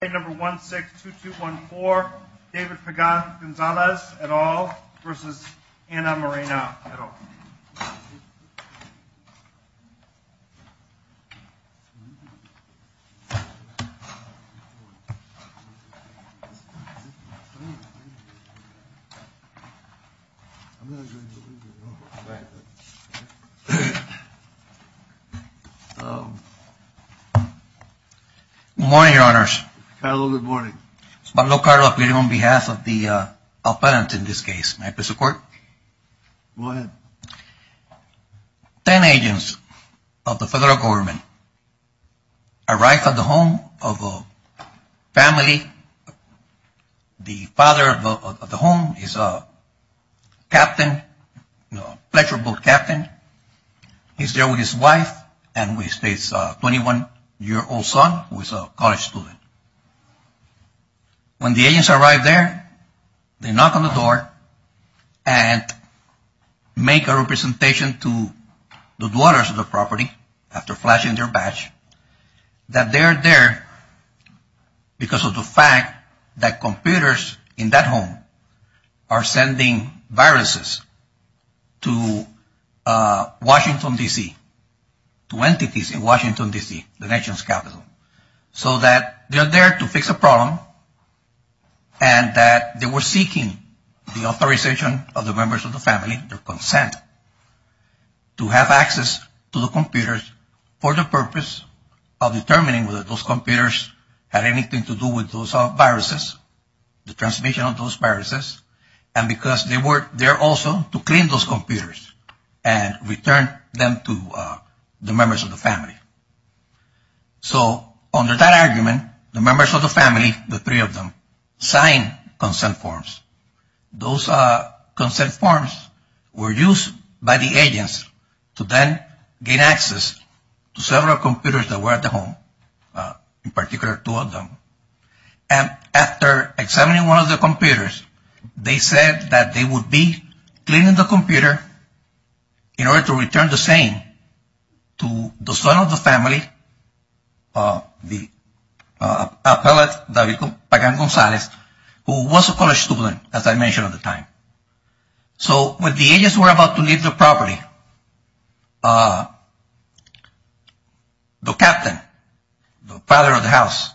162214, David Pagan-Gonzalez et al. versus Anna Moreno et al. Good morning, Your Honors. Carlo, good morning. On behalf of the appellant in this case, may I please report? Go ahead. Ten agents of the federal government arrived at the home of a family. The father of the home is a captain, a pleasure boat captain. He's there with his wife and with his 21-year-old son who is a college student. When the agents arrive there, they knock on the door and make a representation to the dwellers of the property after flashing their badge that they are there because of the fact that computers in that home are sending viruses to Washington, D.C., to entities in Washington, D.C., the nation's capital, so that they are there to fix a problem and that they were seeking the authorization of the members of the family, their consent, to have access to the computers for the purpose of determining whether those computers had anything to do with those viruses, the transmission of those viruses, and because they were there also to clean those computers and return them to the members of the family. So under that argument, the members of the family, the three of them, signed consent forms. Those consent forms were used by the agents to then gain access to several computers that were at the home, in particular two of them, and after examining one of the computers, they said that they would be cleaning the computer in order to return the same to the son of the family, the appellate, David Pagan-Gonzalez, who was a college student, as I mentioned at the time. So when the agents were about to leave the property, the captain, the father of the house,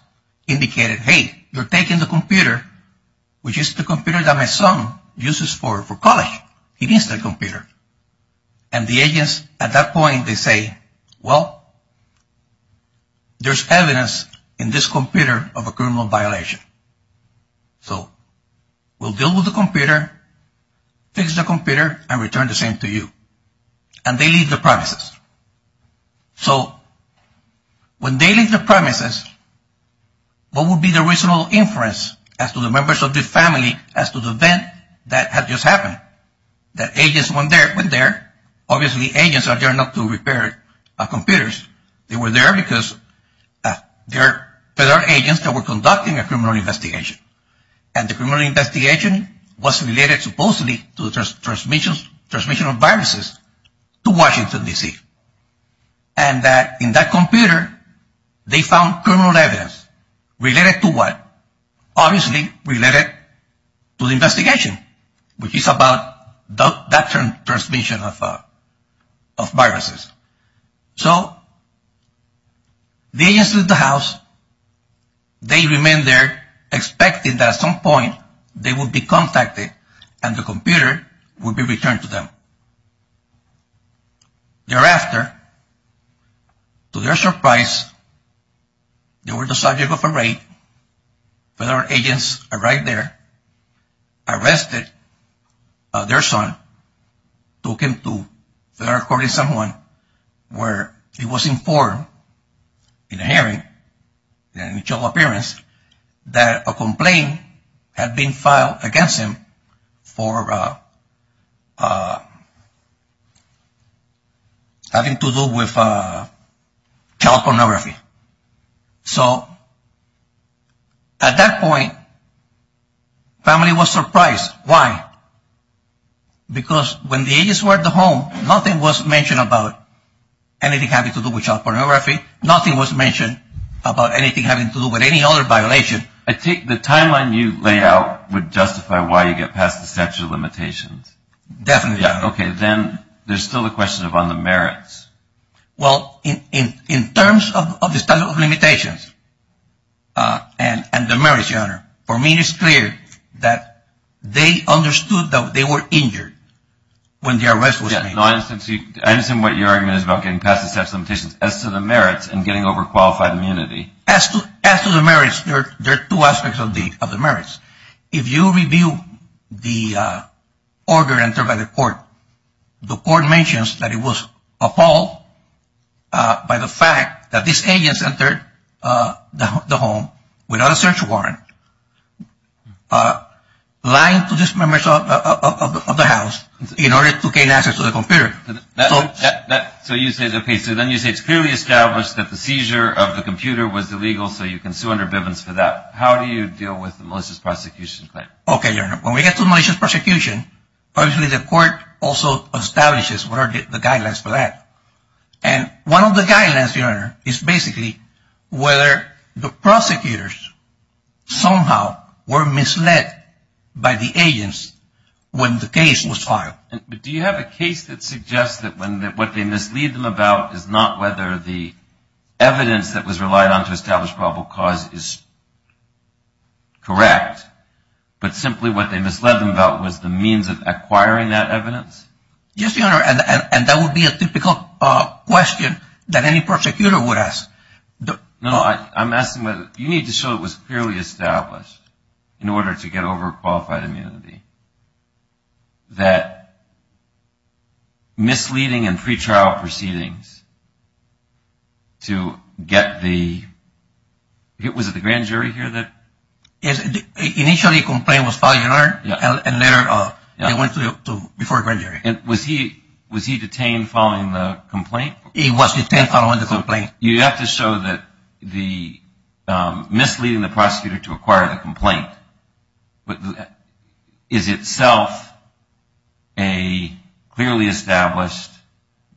indicated, hey, you're taking the computer, which is the computer that my son uses for college, he needs that computer. And the agents at that point, they say, well, there's evidence in this computer of a criminal violation. So we'll deal with the computer, fix the computer, and return the same to you. And they leave the premises. So when they leave the premises, what would be the reasonable inference as to the members of the family as to the event that had just happened? The agents went there. Obviously agents are there not to repair computers. They were there because there are agents that were conducting a criminal investigation. And the criminal investigation was related supposedly to the transmission of viruses to Washington, D.C. And in that computer, they found criminal evidence. Related to what? Obviously related to the investigation, which is about that transmission of viruses. So the agents leave the house. They remain there, expecting that at some point they will be contacted and the computer will be returned to them. Thereafter, to their surprise, they were the subject of a raid. Federal agents arrived there, arrested their son, took him to federal court in San Juan, where he was informed in a hearing, in an initial appearance, that a complaint had been filed against him for having to do with child pornography. So at that point, the family was surprised. Why? Because when the agents were at the home, nothing was mentioned about anything having to do with child pornography. Nothing was mentioned about anything having to do with any other violation. I take the timeline you lay out would justify why you get past the statute of limitations. Definitely. Okay. Then there's still the question of on the merits. For me, it's clear that they understood that they were injured when the arrest was made. I understand what your argument is about getting past the statute of limitations. As to the merits and getting over qualified immunity. As to the merits, there are two aspects of the merits. If you review the order entered by the court, the court mentions that it was a fault by the fact that these agents entered the home without a search warrant, lying to just members of the house in order to gain access to the computer. So you say, okay, so then you say it's clearly established that the seizure of the computer was illegal, so you can sue under Bivens for that. How do you deal with the malicious prosecution claim? Okay, Your Honor. When we get to malicious prosecution, obviously the court also establishes what are the guidelines for that. And one of the guidelines, Your Honor, is basically whether the prosecutors somehow were misled by the agents when the case was filed. Do you have a case that suggests that what they mislead them about is not whether the evidence that was relied on to establish probable cause is correct, but simply what they misled them about was the means of acquiring that evidence? Yes, Your Honor, and that would be a typical question that any prosecutor would ask. No, I'm asking whether you need to show it was clearly established in order to get overqualified immunity that misleading and pretrial proceedings to get the – was it the grand jury here that? Initially the complaint was filed, Your Honor, and later they went to – before grand jury. And was he detained following the complaint? He was detained following the complaint. You have to show that the misleading the prosecutor to acquire the complaint is itself a clearly established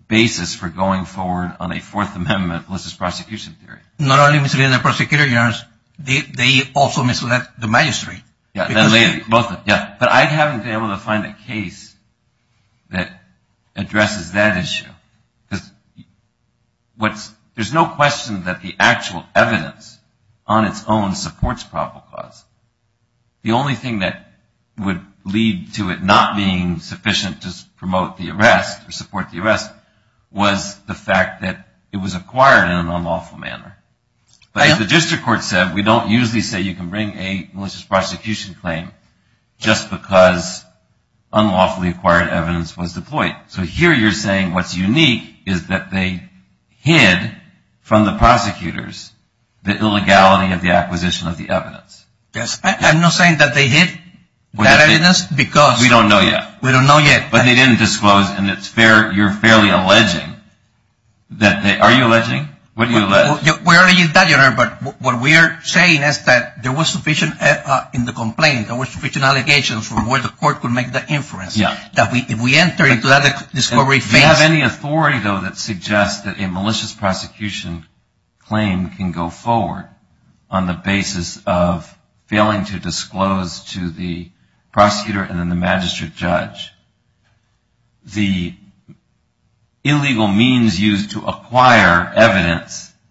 basis for going forward on a Fourth Amendment malicious prosecution theory. Not only misleading the prosecutor, Your Honor, they also misled the magistrate. Both of them, yes. But I haven't been able to find a case that addresses that issue because what's – there's no question that the actual evidence on its own supports probable cause. The only thing that would lead to it not being sufficient to promote the arrest or support the arrest was the fact that it was But as the district court said, we don't usually say you can bring a malicious prosecution claim just because unlawfully acquired evidence was deployed. So here you're saying what's unique is that they hid from the prosecutors the illegality of the acquisition of the evidence. Yes. I'm not saying that they hid that evidence because – We don't know yet. We don't know yet. But they didn't disclose and it's fair – you're fairly alleging that they – are you alleging? What are you alleging? We're alleging that, Your Honor, but what we're saying is that there was sufficient – in the complaint, there was sufficient allegations from where the court could make that inference. Yeah. That if we enter into that discovery phase – Do you have any authority, though, that suggests that a malicious prosecution claim can go forward on the basis of failing to evidence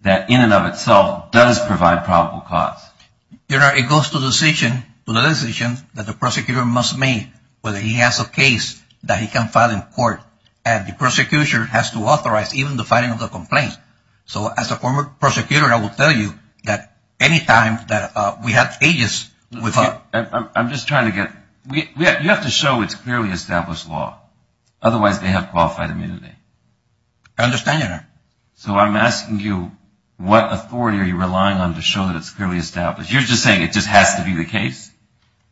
that in and of itself does provide probable cause? Your Honor, it goes to the decision that the prosecutor must make whether he has a case that he can file in court. And the prosecutor has to authorize even the filing of the complaint. So as a former prosecutor, I will tell you that any time that we have cases – I'm just trying to get – you have to show it's clearly established law. I understand, Your Honor. So I'm asking you, what authority are you relying on to show that it's clearly established? You're just saying it just has to be the case?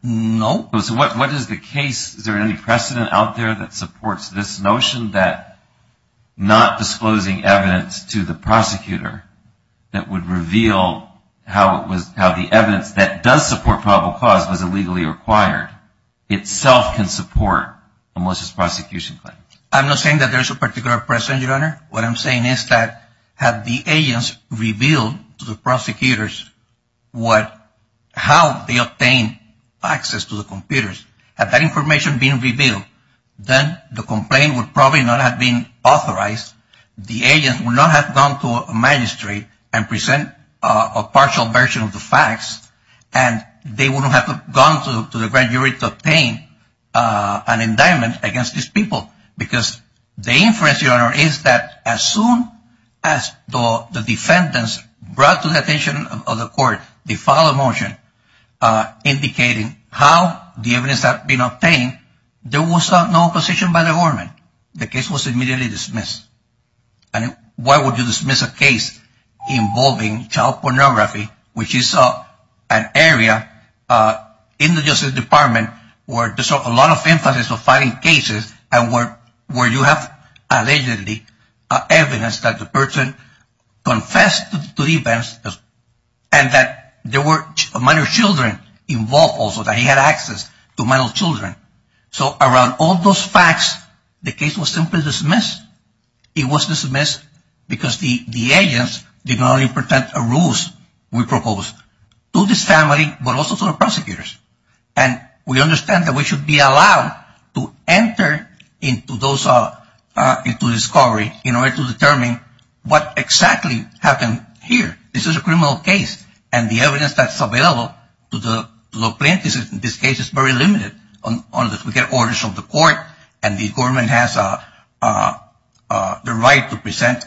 No. So what is the case – is there any precedent out there that supports this notion that not disclosing evidence to the prosecutor that would reveal how the evidence that does support probable cause was illegally acquired itself can support a malicious prosecution claim? Your Honor, what I'm saying is that had the agents revealed to the prosecutors how they obtained access to the computers, had that information been revealed, then the complaint would probably not have been authorized. The agents would not have gone to a magistrate and present a partial version of the facts, and they wouldn't have gone to the grand jury to obtain an indictment against these people. Because the inference, Your Honor, is that as soon as the defendants brought to the attention of the court the file of motion indicating how the evidence had been obtained, there was no opposition by the government. The case was immediately dismissed. And why would you dismiss a case involving child pornography, which is an area in the Justice Department where there's a lot of emphasis on filing cases and where you have allegedly evidence that the person confessed to the events and that there were minor children involved also, that he had access to minor children. So around all those facts, the case was simply dismissed. It was dismissed because the agents did not only protect the rules we proposed to this family but also to the prosecutors. And we understand that we should be allowed to enter into discovery in order to determine what exactly happened here. This is a criminal case, and the evidence that's available to the plaintiffs in this case is very limited. We get orders from the court, and the government has the right to present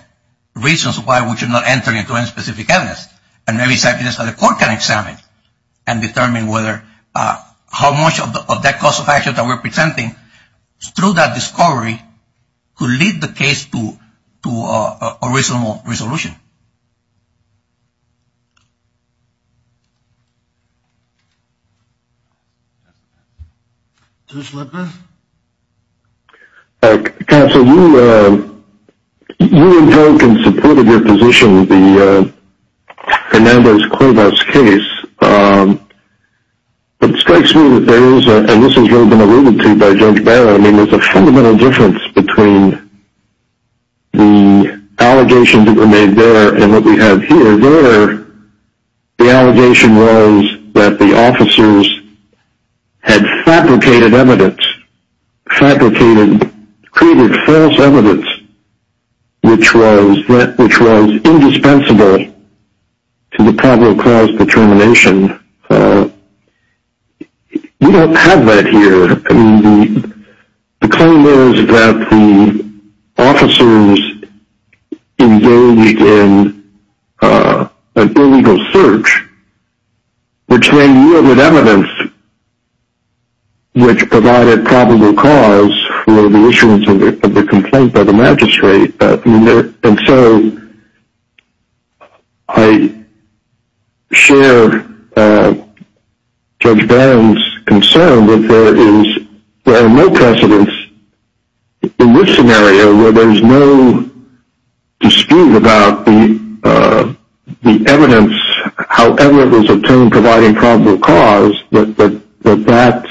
reasons why we should not enter into any specific evidence. And maybe something else that the court can examine and determine how much of that cost of action that we're presenting through that discovery could lead the case to a reasonable resolution. Thank you. Judge Lipman? Counsel, you invoked in support of your position the Hernandez-Cuevas case. It strikes me that there is, and this has really been alluded to by Judge Barra, I mean there's a fundamental difference between the allegations that were made there and what we have here. There, the allegation was that the officers had fabricated evidence, fabricated, created false evidence, which was indispensable to the probable cause determination. We don't have that here. I mean, the claim was that the officers engaged in an illegal search, which then yielded evidence which provided probable cause for the issuance of the complaint by the magistrate. And so I share Judge Barron's concern that there are no precedents in this scenario where there's no dispute about the evidence, however it was obtained, providing probable cause, that that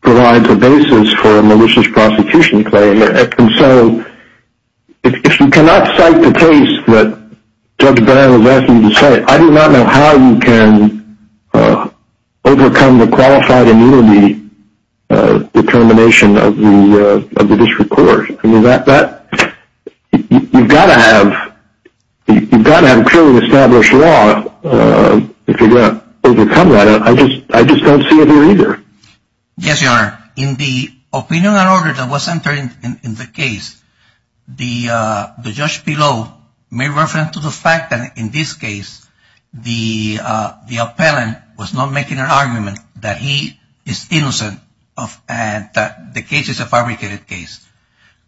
provides a basis for a malicious prosecution claim. And so if you cannot cite the case that Judge Barron has asked you to cite, I do not know how you can overcome the qualified immunity determination of the district court. I mean, you've got to have clearly established law if you're going to overcome that. I just don't see it here either. Yes, Your Honor. In the opinion and order that was entered in the case, the judge below made reference to the fact that in this case the appellant was not making an argument that he is innocent and that the case is a fabricated case.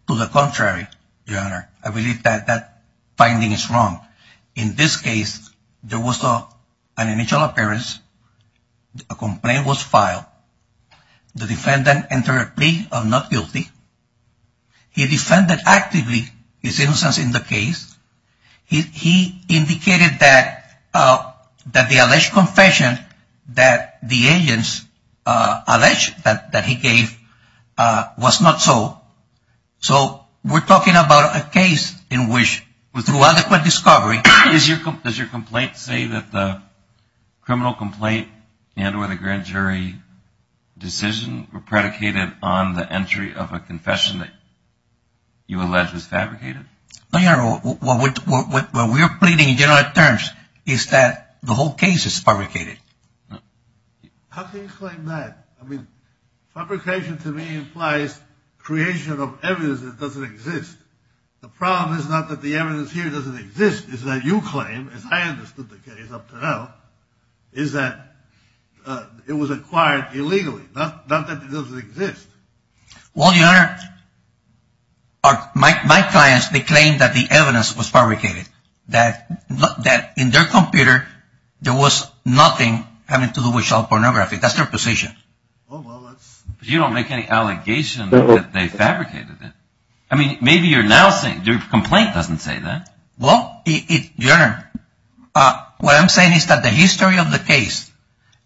To the contrary, Your Honor, I believe that that finding is wrong. I believe that in this case there was an initial appearance, a complaint was filed, the defendant entered a plea of not guilty, he defended actively his innocence in the case, he indicated that the alleged confession that the agents alleged that he gave was not so. So we're talking about a case in which through adequate discovery. Does your complaint say that the criminal complaint and or the grand jury decision were predicated on the entry of a confession that you allege was fabricated? Your Honor, what we are pleading in general terms is that the whole case is fabricated. How can you claim that? I mean, fabrication to me implies creation of evidence that doesn't exist. The problem is not that the evidence here doesn't exist, it's that you claim, as I understood the case up to now, is that it was acquired illegally, not that it doesn't exist. Well, Your Honor, my clients, they claim that the evidence was fabricated, that in their computer there was nothing having to do with child pornography. That's their position. But you don't make any allegations that they fabricated it. I mean, maybe your complaint doesn't say that. Well, Your Honor, what I'm saying is that the history of the case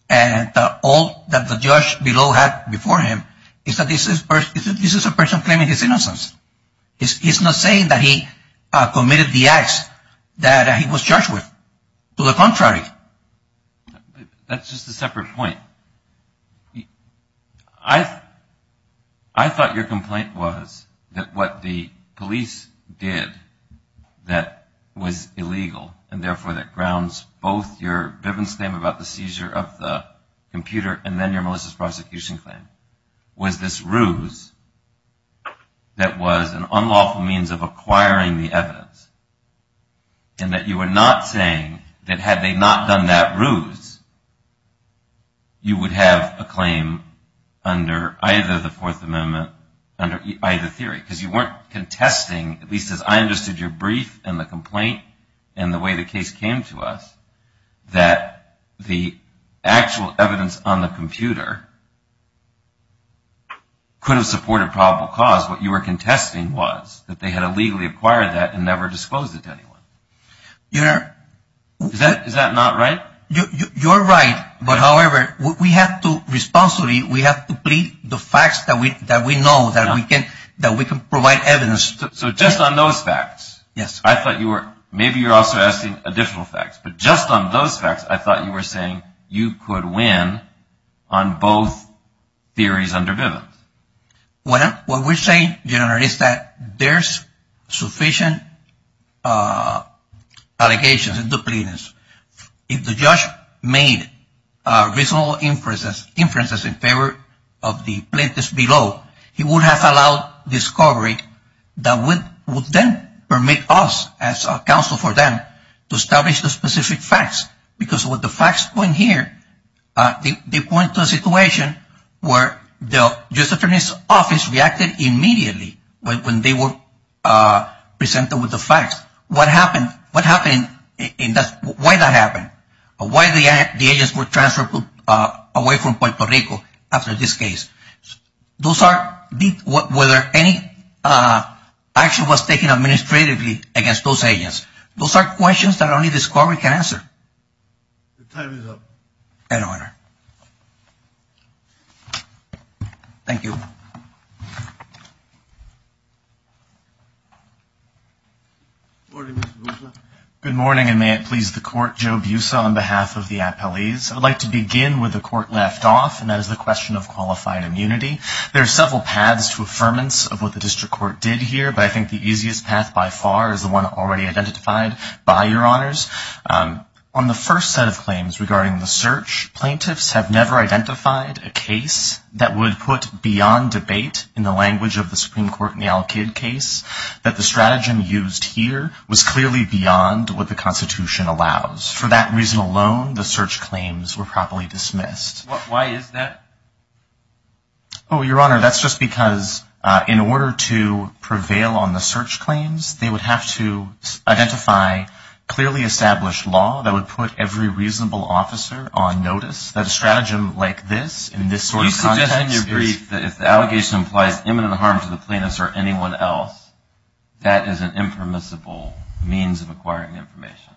and all that the judge below had before him is that this is a person claiming his innocence. He's not saying that he committed the acts that he was charged with. To the contrary. That's just a separate point. I thought your complaint was that what the police did that was illegal and therefore that grounds both your Bivens claim about the seizure of the computer and then your Melissa's prosecution claim was this ruse that was an unlawful means of acquiring the evidence and that you were not saying that had they not done that ruse, you would have a claim under either the Fourth Amendment, under either theory, because you weren't contesting, at least as I understood your brief and the complaint and the way the case came to us, that the actual evidence on the computer could have supported probable cause. What you were contesting was that they had illegally acquired that and never disclosed it to anyone. Your Honor. Is that not right? You're right, but however, we have to responsibly, we have to plead the facts that we know, that we can provide evidence. So just on those facts, I thought you were, maybe you're also asking additional facts, but just on those facts, I thought you were saying you could win on both theories under Bivens. Well, what we're saying, Your Honor, is that there's sufficient allegations in the plaintiffs. If the judge made reasonable inferences in favor of the plaintiffs below, he would have allowed discovery that would then permit us, as a counsel for them, to establish the specific facts, because what the facts point here, they point to a situation where the Justice Department's office reacted immediately when they were presented with the facts. What happened, why that happened? Why the agents were transferred away from Puerto Rico after this case? Those are, whether any action was taken administratively against those agents. Those are questions that only discovery can answer. Your time is up. In order. Thank you. Good morning, Mr. Boussa. Good morning, and may it please the Court, Joe Boussa on behalf of the appellees. I'd like to begin where the Court left off, and that is the question of qualified immunity. There are several paths to affirmance of what the district court did here, but I think the easiest path by far is the one already identified by Your Honors. On the first set of claims regarding the search, plaintiffs have never identified a case that would put beyond debate, in the language of the Supreme Court in the Al-Qaeda case, that the strategy used here was clearly beyond what the Constitution allows. For that reason alone, the search claims were properly dismissed. Why is that? Your Honor, that's just because in order to prevail on the search claims, they would have to identify clearly established law that would put every reasonable officer on notice. That a stratagem like this, in this sort of context. So you're suggesting, in your brief, that if the allegation implies imminent harm to the plaintiffs or anyone else, that is an impermissible means of acquiring information.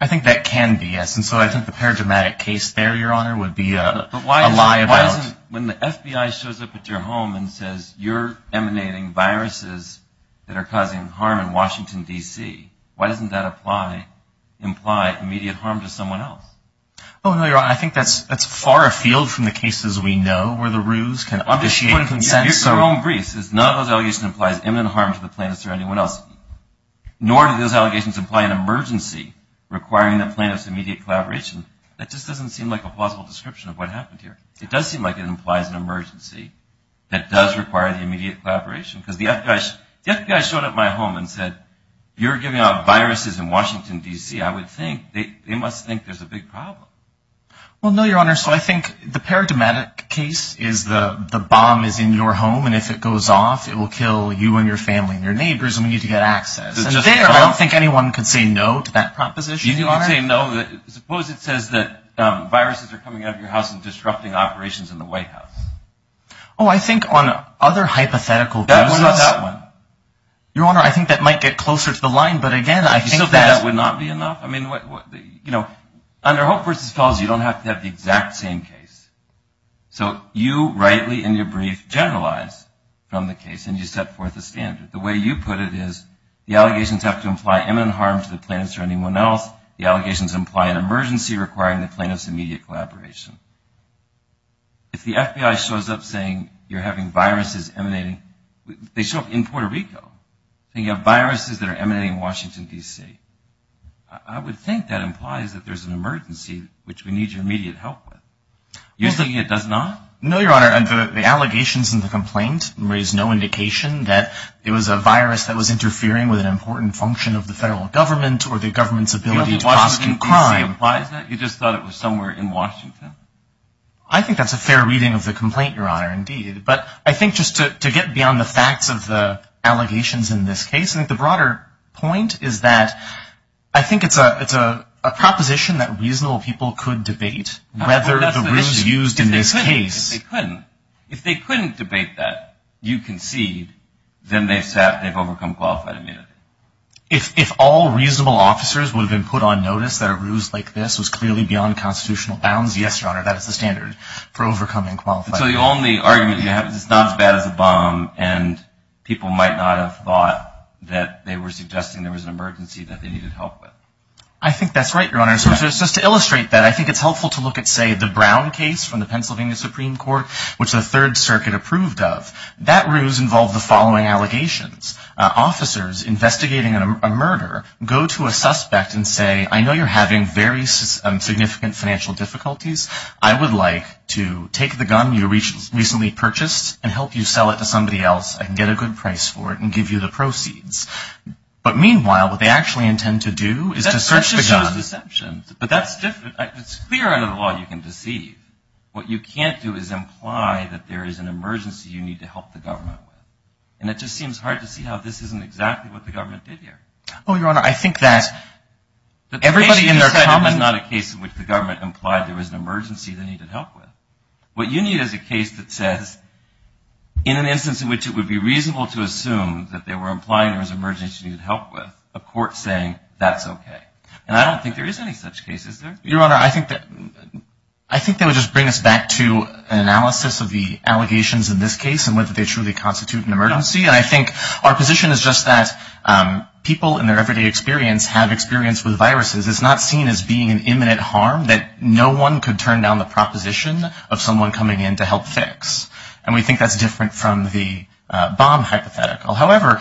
I think that can be, yes, and so I think the paradigmatic case there, Your Honor, would be a lie about. But why isn't, when the FBI shows up at your home and says, you're emanating viruses that are causing harm in Washington, D.C., why doesn't that imply immediate harm to someone else? Oh, no, Your Honor, I think that's far afield from the cases we know, where the ruse can initiate consensus. Your own brief says none of those allegations implies imminent harm to the plaintiffs or anyone else, nor do those allegations imply an emergency requiring the plaintiffs' immediate collaboration. That just doesn't seem like a plausible description of what happened here. It does seem like it implies an emergency that does require the immediate collaboration, because the FBI showed up at my home and said, you're giving out viruses in Washington, D.C. I would think they must think there's a big problem. Well, no, Your Honor, so I think the paradigmatic case is the bomb is in your home, and if it goes off, it will kill you and your family and your neighbors, and we need to get access. I don't think anyone could say no to that proposition, Your Honor. Suppose it says that viruses are coming out of your house and disrupting operations in the White House. Oh, I think on other hypothetical cases – That was not that one. Your Honor, I think that might get closer to the line, but again, I think that – You still think that would not be enough? I mean, you know, under Hope v. Fells, you don't have to have the exact same case. So you rightly in your brief generalize from the case, and you set forth a standard. The way you put it is the allegations have to imply imminent harm to the plaintiffs or anyone else. The allegations imply an emergency requiring the plaintiffs' immediate collaboration. If the FBI shows up saying you're having viruses emanating – they show up in Puerto Rico, and you have viruses that are emanating in Washington, D.C., I would think that implies that there's an emergency which we need your immediate help with. You're thinking it does not? No, Your Honor, the allegations in the complaint raise no indication that it was a virus that was interfering with an important function of the federal government or the government's ability to prosecute crime. You don't think Washington, D.C. implies that? You just thought it was somewhere in Washington? I think that's a fair reading of the complaint, Your Honor, indeed. But I think just to get beyond the facts of the allegations in this case, I think the broader point is that I think it's a proposition that reasonable people could debate whether the rules used in this case – If all reasonable officers would have been put on notice that a ruse like this was clearly beyond constitutional bounds, yes, Your Honor, that is the standard for overcoming qualification. So the only argument you have is it's not as bad as a bomb, and people might not have thought that they were suggesting there was an emergency that they needed help with. I think that's right, Your Honor. So just to illustrate that, I think it's helpful to look at, say, the Brown case from the Pennsylvania Supreme Court, which the Third Circuit approved of. That ruse involved the following allegations. Officers investigating a murder go to a suspect and say, I know you're having very significant financial difficulties. I would like to take the gun you recently purchased and help you sell it to somebody else and get a good price for it and give you the proceeds. But, meanwhile, what they actually intend to do is to search the gun. That's just huge deception. But that's different. It's clear under the law you can deceive. What you can't do is imply that there is an emergency you need to help the government with. And it just seems hard to see how this isn't exactly what the government did here. Oh, Your Honor, I think that everybody in their common --- The case you just said is not a case in which the government implied there was an emergency they needed help with. What you need is a case that says, in an instance in which it would be reasonable to assume that they were implying there was an emergency they needed help with, a court saying that's okay. Your Honor, I think they would just bring us back to an analysis of the allegations in this case and whether they truly constitute an emergency. And I think our position is just that people in their everyday experience have experience with viruses. It's not seen as being an imminent harm that no one could turn down the proposition of someone coming in to help fix. And we think that's different from the bomb hypothetical. However,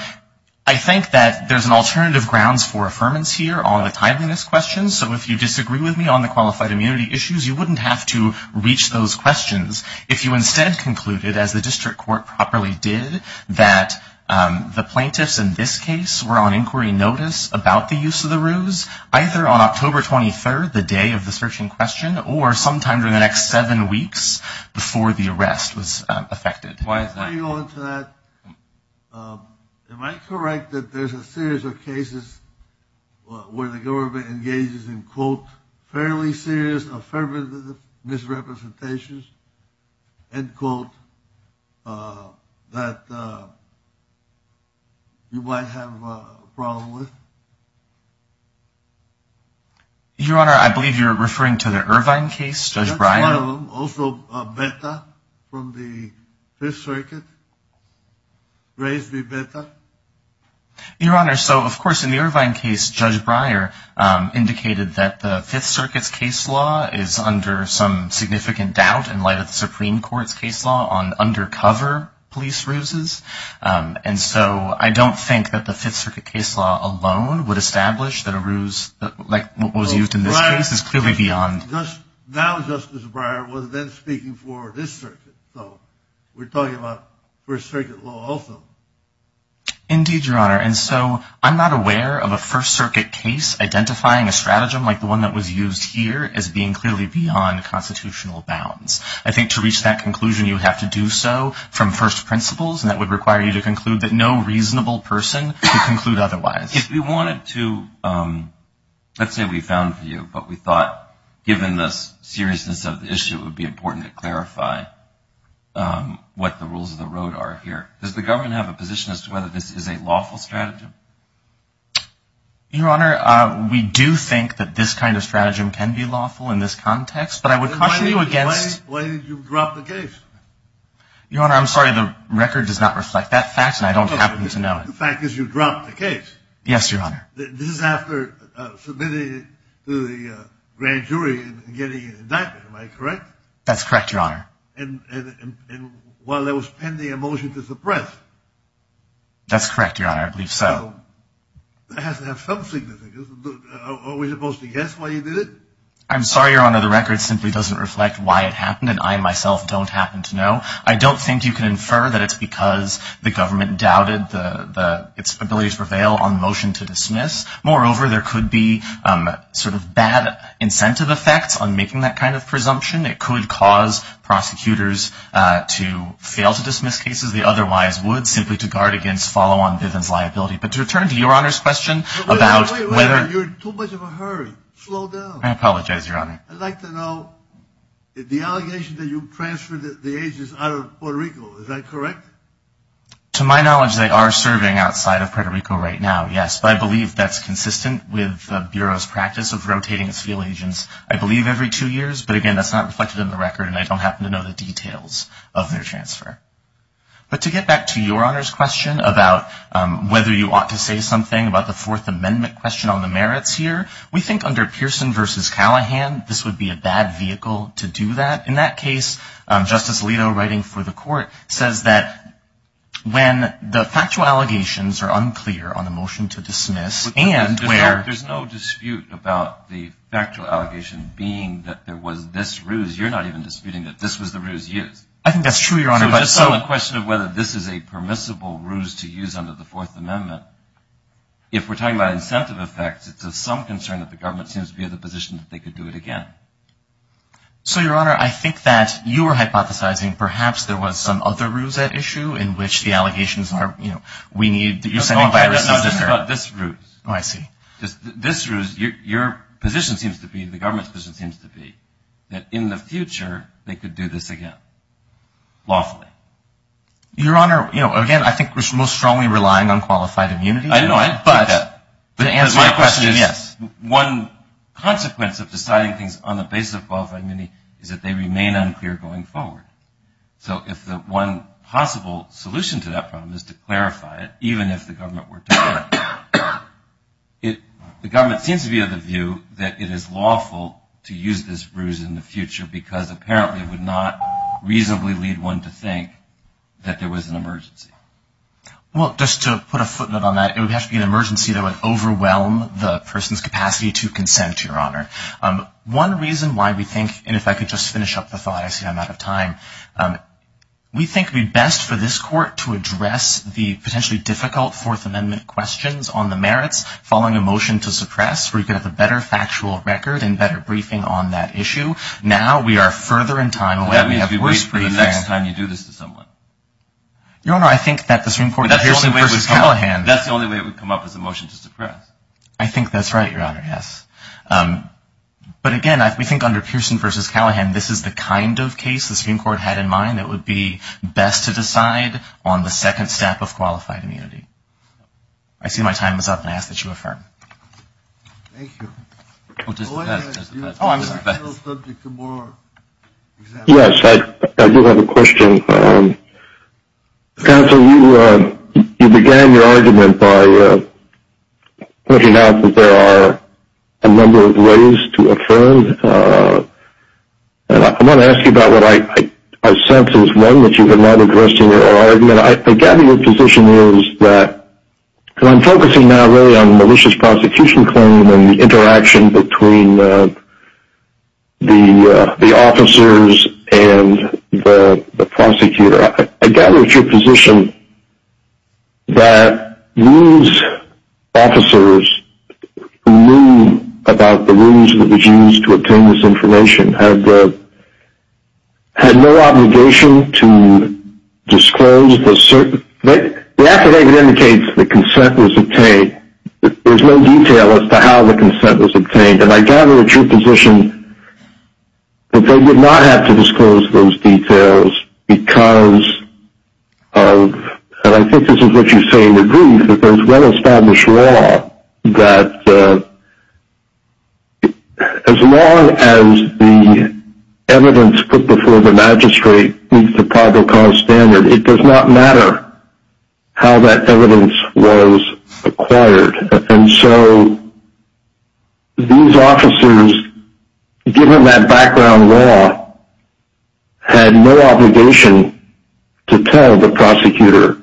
I think that there's an alternative grounds for affirmance here on the timeliness question. So if you disagree with me on the qualified immunity issues, you wouldn't have to reach those questions. If you instead concluded, as the district court properly did, that the plaintiffs in this case were on inquiry notice about the use of the ruse, either on October 23rd, the day of the searching question, or sometime during the next seven weeks before the arrest was effected. Let me go into that. Am I correct that there's a series of cases where the government engages in, quote, fairly serious affirmative misrepresentations, end quote, that you might have a problem with? Your Honor, I believe you're referring to the Irvine case, Judge Bryan. One of them, also Betta from the Fifth Circuit. Raise the Betta. Your Honor, so, of course, in the Irvine case, Judge Bryan indicated that the Fifth Circuit's case law is under some significant doubt in light of the Supreme Court's case law on undercover police ruses. And so I don't think that the Fifth Circuit case law alone would establish that a ruse like what was used in this case is clearly beyond. Now Justice Breyer was then speaking for this circuit. So we're talking about First Circuit law also. Indeed, Your Honor. And so I'm not aware of a First Circuit case identifying a stratagem like the one that was used here as being clearly beyond constitutional bounds. I think to reach that conclusion, you have to do so from first principles, and that would require you to conclude that no reasonable person could conclude otherwise. If we wanted to, let's say we found for you, but we thought, given the seriousness of the issue, it would be important to clarify what the rules of the road are here. Does the government have a position as to whether this is a lawful stratagem? Your Honor, we do think that this kind of stratagem can be lawful in this context, but I would caution you against. Then why did you drop the case? Your Honor, I'm sorry, the record does not reflect that fact, and I don't happen to know it. The fact is you dropped the case. Yes, Your Honor. This is after submitting it to the grand jury and getting an indictment. Am I correct? That's correct, Your Honor. And while there was pending a motion to suppress. That's correct, Your Honor. I believe so. It has to have some significance. Are we supposed to guess why you did it? I'm sorry, Your Honor, the record simply doesn't reflect why it happened, and I myself don't happen to know. I don't think you can infer that it's because the government doubted its ability to prevail on the motion to dismiss. Moreover, there could be sort of bad incentive effects on making that kind of presumption. It could cause prosecutors to fail to dismiss cases they otherwise would simply to guard against follow-on Bivens liability. But to return to Your Honor's question about whether — Wait, wait, wait. You're in too much of a hurry. Slow down. I apologize, Your Honor. I'd like to know the allegation that you transferred the agents out of Puerto Rico. Is that correct? To my knowledge, they are serving outside of Puerto Rico right now, yes. But I believe that's consistent with the Bureau's practice of rotating its field agents, I believe, every two years. But, again, that's not reflected in the record, and I don't happen to know the details of their transfer. But to get back to Your Honor's question about whether you ought to say something about the Fourth Amendment question on the merits here, we think under Pearson v. Callahan, this would be a bad vehicle to do that. In that case, Justice Alito, writing for the Court, says that when the factual allegations are unclear on the motion to dismiss and where — There's no dispute about the factual allegation being that there was this ruse. You're not even disputing that this was the ruse used. I think that's true, Your Honor, but — So just on the question of whether this is a permissible ruse to use under the Fourth Amendment, if we're talking about incentive effects, it's of some concern that the government seems to be in the position that they could do it again. So, Your Honor, I think that you were hypothesizing perhaps there was some other ruse at issue in which the allegations are, you know, No, no, no, just about this ruse. Oh, I see. This ruse, your position seems to be, the government's position seems to be, that in the future, they could do this again, lawfully. Your Honor, you know, again, I think we're most strongly relying on qualified immunity. I know, but — To answer my question, yes. One consequence of deciding things on the basis of qualified immunity is that they remain unclear going forward. So if the one possible solution to that problem is to clarify it, even if the government were to do it, the government seems to be of the view that it is lawful to use this ruse in the future because apparently it would not reasonably lead one to think that there was an emergency. Well, just to put a footnote on that, it would have to be an emergency that would overwhelm the person's capacity to consent, Your Honor. One reason why we think — and if I could just finish up the thought, I see I'm out of time. We think it would be best for this Court to address the potentially difficult Fourth Amendment questions on the merits following a motion to suppress where you could have a better factual record and better briefing on that issue. Now we are further in time away. That means we wait for the next time you do this to someone. Your Honor, I think that the Supreme Court — That's the only way it would come up. That's the only way it would come up, is a motion to suppress. I think that's right, Your Honor, yes. But, again, we think under Pearson v. Callahan, this is the kind of case the Supreme Court had in mind that would be best to decide on the second step of qualified immunity. I see my time is up, and I ask that you affirm. Thank you. Oh, I'm still subject to more examples. Yes, I do have a question. Counsel, you began your argument by pointing out that there are a number of ways to affirm. I want to ask you about what I sense is one that you have not addressed in your argument. I gather your position is that — because I'm focusing now really on the malicious prosecution claim and the interaction between the officers and the prosecutor. I gather it's your position that these officers who knew about the rules that were used to obtain this information had no obligation to disclose the certain — the affidavit indicates the consent was obtained. There's no detail as to how the consent was obtained. And I gather it's your position that they would not have to disclose those details because of — and I think this is what you say in the brief — there's well-established law that as long as the evidence put before the magistrate meets the probable cause standard, it does not matter how that evidence was acquired. And so these officers, given that background law, had no obligation to tell the prosecutor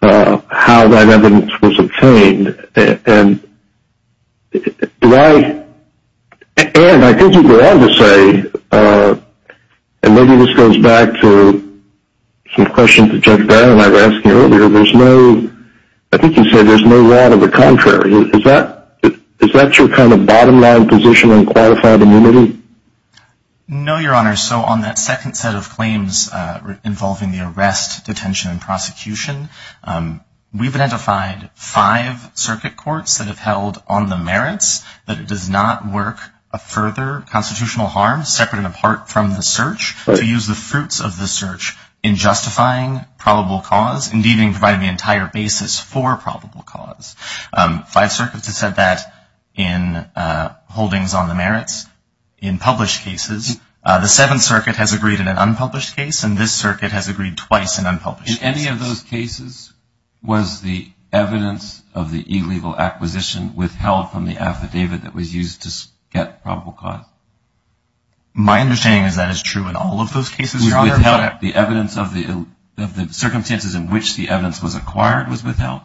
how that evidence was obtained. And do I — and I think you go on to say — and maybe this goes back to some questions that Judge Brown and I were asking earlier. There's no — I think you said there's no law to the contrary. Is that your kind of bottom-line position on qualified immunity? No, Your Honor. So on that second set of claims involving the arrest, detention, and prosecution, we've identified five circuit courts that have held on the merits that it does not work a further constitutional harm, separate and apart from the search, to use the fruits of the search in justifying probable cause, and even providing the entire basis for probable cause. Five circuits have said that in holdings on the merits. In published cases, the Seventh Circuit has agreed in an unpublished case, and this circuit has agreed twice in unpublished cases. In any of those cases, was the evidence of the illegal acquisition withheld from the affidavit that was used to get probable cause? My understanding is that is true in all of those cases, Your Honor. The evidence of the circumstances in which the evidence was acquired was withheld?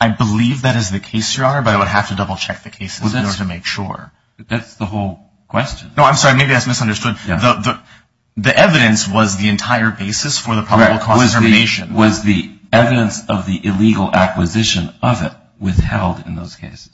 I believe that is the case, Your Honor, but I would have to double-check the cases in order to make sure. That's the whole question. No, I'm sorry. Maybe that's misunderstood. The evidence was the entire basis for the probable cause determination. Was the evidence of the illegal acquisition of it withheld in those cases?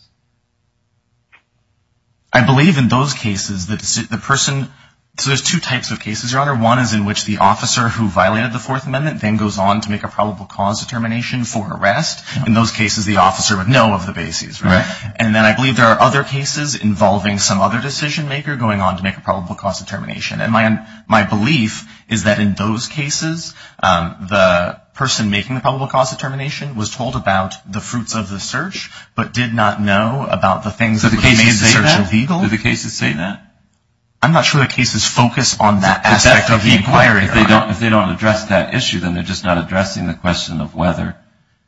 I believe in those cases the person – so there's two types of cases, Your Honor. One is in which the officer who violated the Fourth Amendment then goes on to make a probable cause determination for arrest. In those cases, the officer would know of the basis, right? Right. And then I believe there are other cases involving some other decision-maker going on to make a probable cause determination. And my belief is that in those cases, the person making the probable cause determination was told about the fruits of the search, but did not know about the things that were made the search illegal. Do the cases say that? Do the cases say that? I'm not sure the cases focus on that aspect of the inquiry. If they don't address that issue, then they're just not addressing the question of whether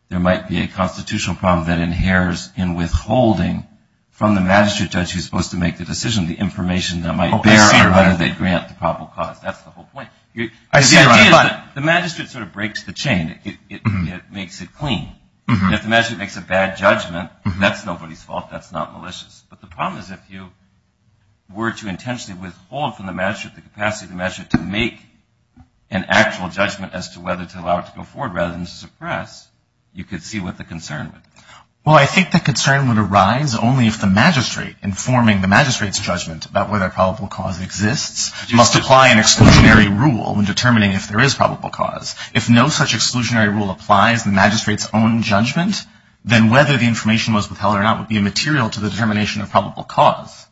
there might be a constitutional problem that inheres in withholding from the magistrate judge who's supposed to make the decision the information that might bear or whether they grant the probable cause. That's the whole point. The idea is the magistrate sort of breaks the chain. It makes it clean. If the magistrate makes a bad judgment, that's nobody's fault. That's not malicious. But the problem is if you were to intentionally withhold from the magistrate the capacity of the magistrate to make an actual judgment as to whether to allow it to go forward rather than to suppress, you could see what the concern would be. Well, I think the concern would arise only if the magistrate informing the magistrate's judgment about whether probable cause exists must apply an exclusionary rule in determining if there is probable cause. If no such exclusionary rule applies, the magistrate's own judgment, then whether the information was withheld or not would be immaterial to the determination of probable cause.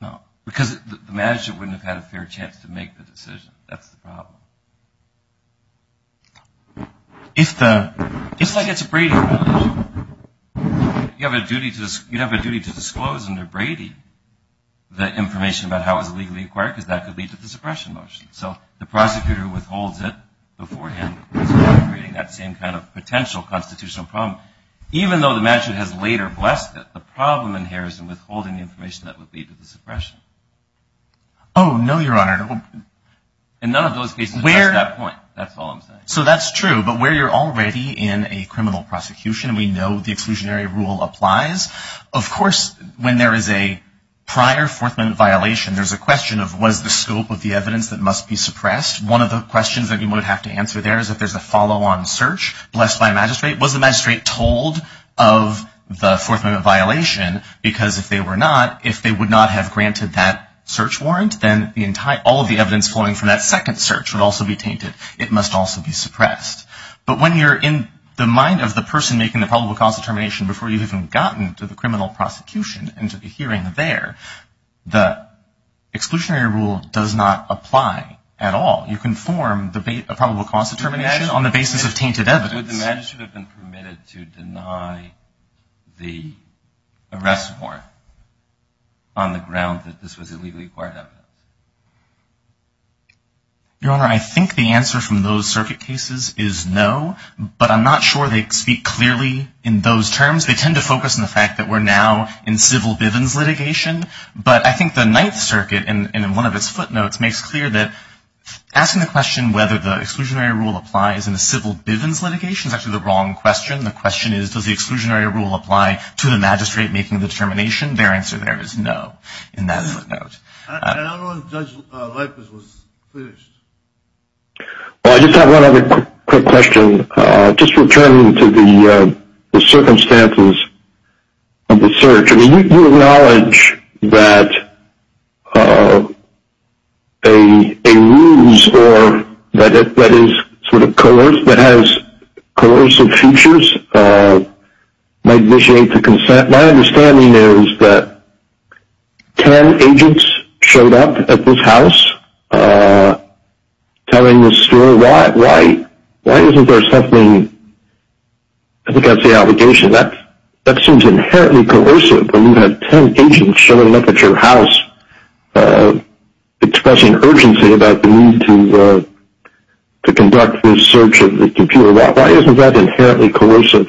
No, because the magistrate wouldn't have had a fair chance to make the decision. That's the problem. It's like it's a Brady violation. You have a duty to disclose under Brady the information about how it was legally acquired because that could lead to the suppression motion. So the prosecutor withholds it beforehand, creating that same kind of potential constitutional problem. Even though the magistrate has later blessed it, the problem in here is in withholding the information that would lead to the suppression. Oh, no, Your Honor. In none of those cases, that's that point. That's all I'm saying. So that's true. But where you're already in a criminal prosecution, we know the exclusionary rule applies. Of course, when there is a prior fourth-minute violation, there's a question of what is the scope of the evidence that must be suppressed. One of the questions that you would have to answer there is if there's a follow-on search blessed by a magistrate. Was the magistrate told of the fourth-minute violation? Because if they were not, if they would not have granted that search warrant, then all of the evidence flowing from that second search would also be tainted. It must also be suppressed. But when you're in the mind of the person making the probable cause determination before you've even gotten to the criminal You can form the probable cause determination on the basis of tainted evidence. Would the magistrate have been permitted to deny the arrest warrant on the ground that this was illegally acquired evidence? Your Honor, I think the answer from those circuit cases is no. But I'm not sure they speak clearly in those terms. They tend to focus on the fact that we're now in civil bivens litigation. But I think the Ninth Circuit in one of its footnotes makes clear that asking the question whether the exclusionary rule applies in a civil bivens litigation is actually the wrong question. The question is, does the exclusionary rule apply to the magistrate making the determination? Their answer there is no in that footnote. And I don't know if Judge Lippert was finished. Well, I just have one other quick question. Just returning to the circumstances of the search. You acknowledge that a ruse or that is sort of coerced, that has coercive features might initiate the consent. My understanding is that 10 agents showed up at this house telling this story. Why isn't there something? I think that's the allegation. That seems inherently coercive when you have 10 agents showing up at your house expressing urgency about the need to conduct this search of the computer. Why isn't that inherently coercive?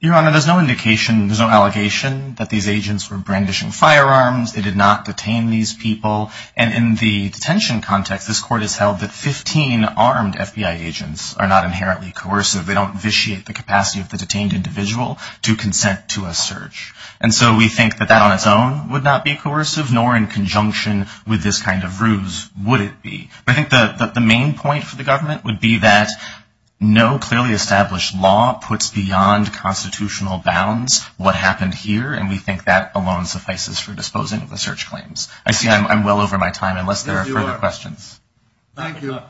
Your Honor, there's no indication, there's no allegation that these agents were brandishing firearms. They did not detain these people. And in the detention context, this court has held that 15 armed FBI agents are not inherently coercive. They don't vitiate the capacity of the detained individual to consent to a search. And so we think that that on its own would not be coercive, nor in conjunction with this kind of ruse would it be. But I think the main point for the government would be that no clearly established law puts beyond constitutional bounds what happened here. And we think that alone suffices for disposing of the search claims. I see I'm well over my time unless there are further questions. Thank you.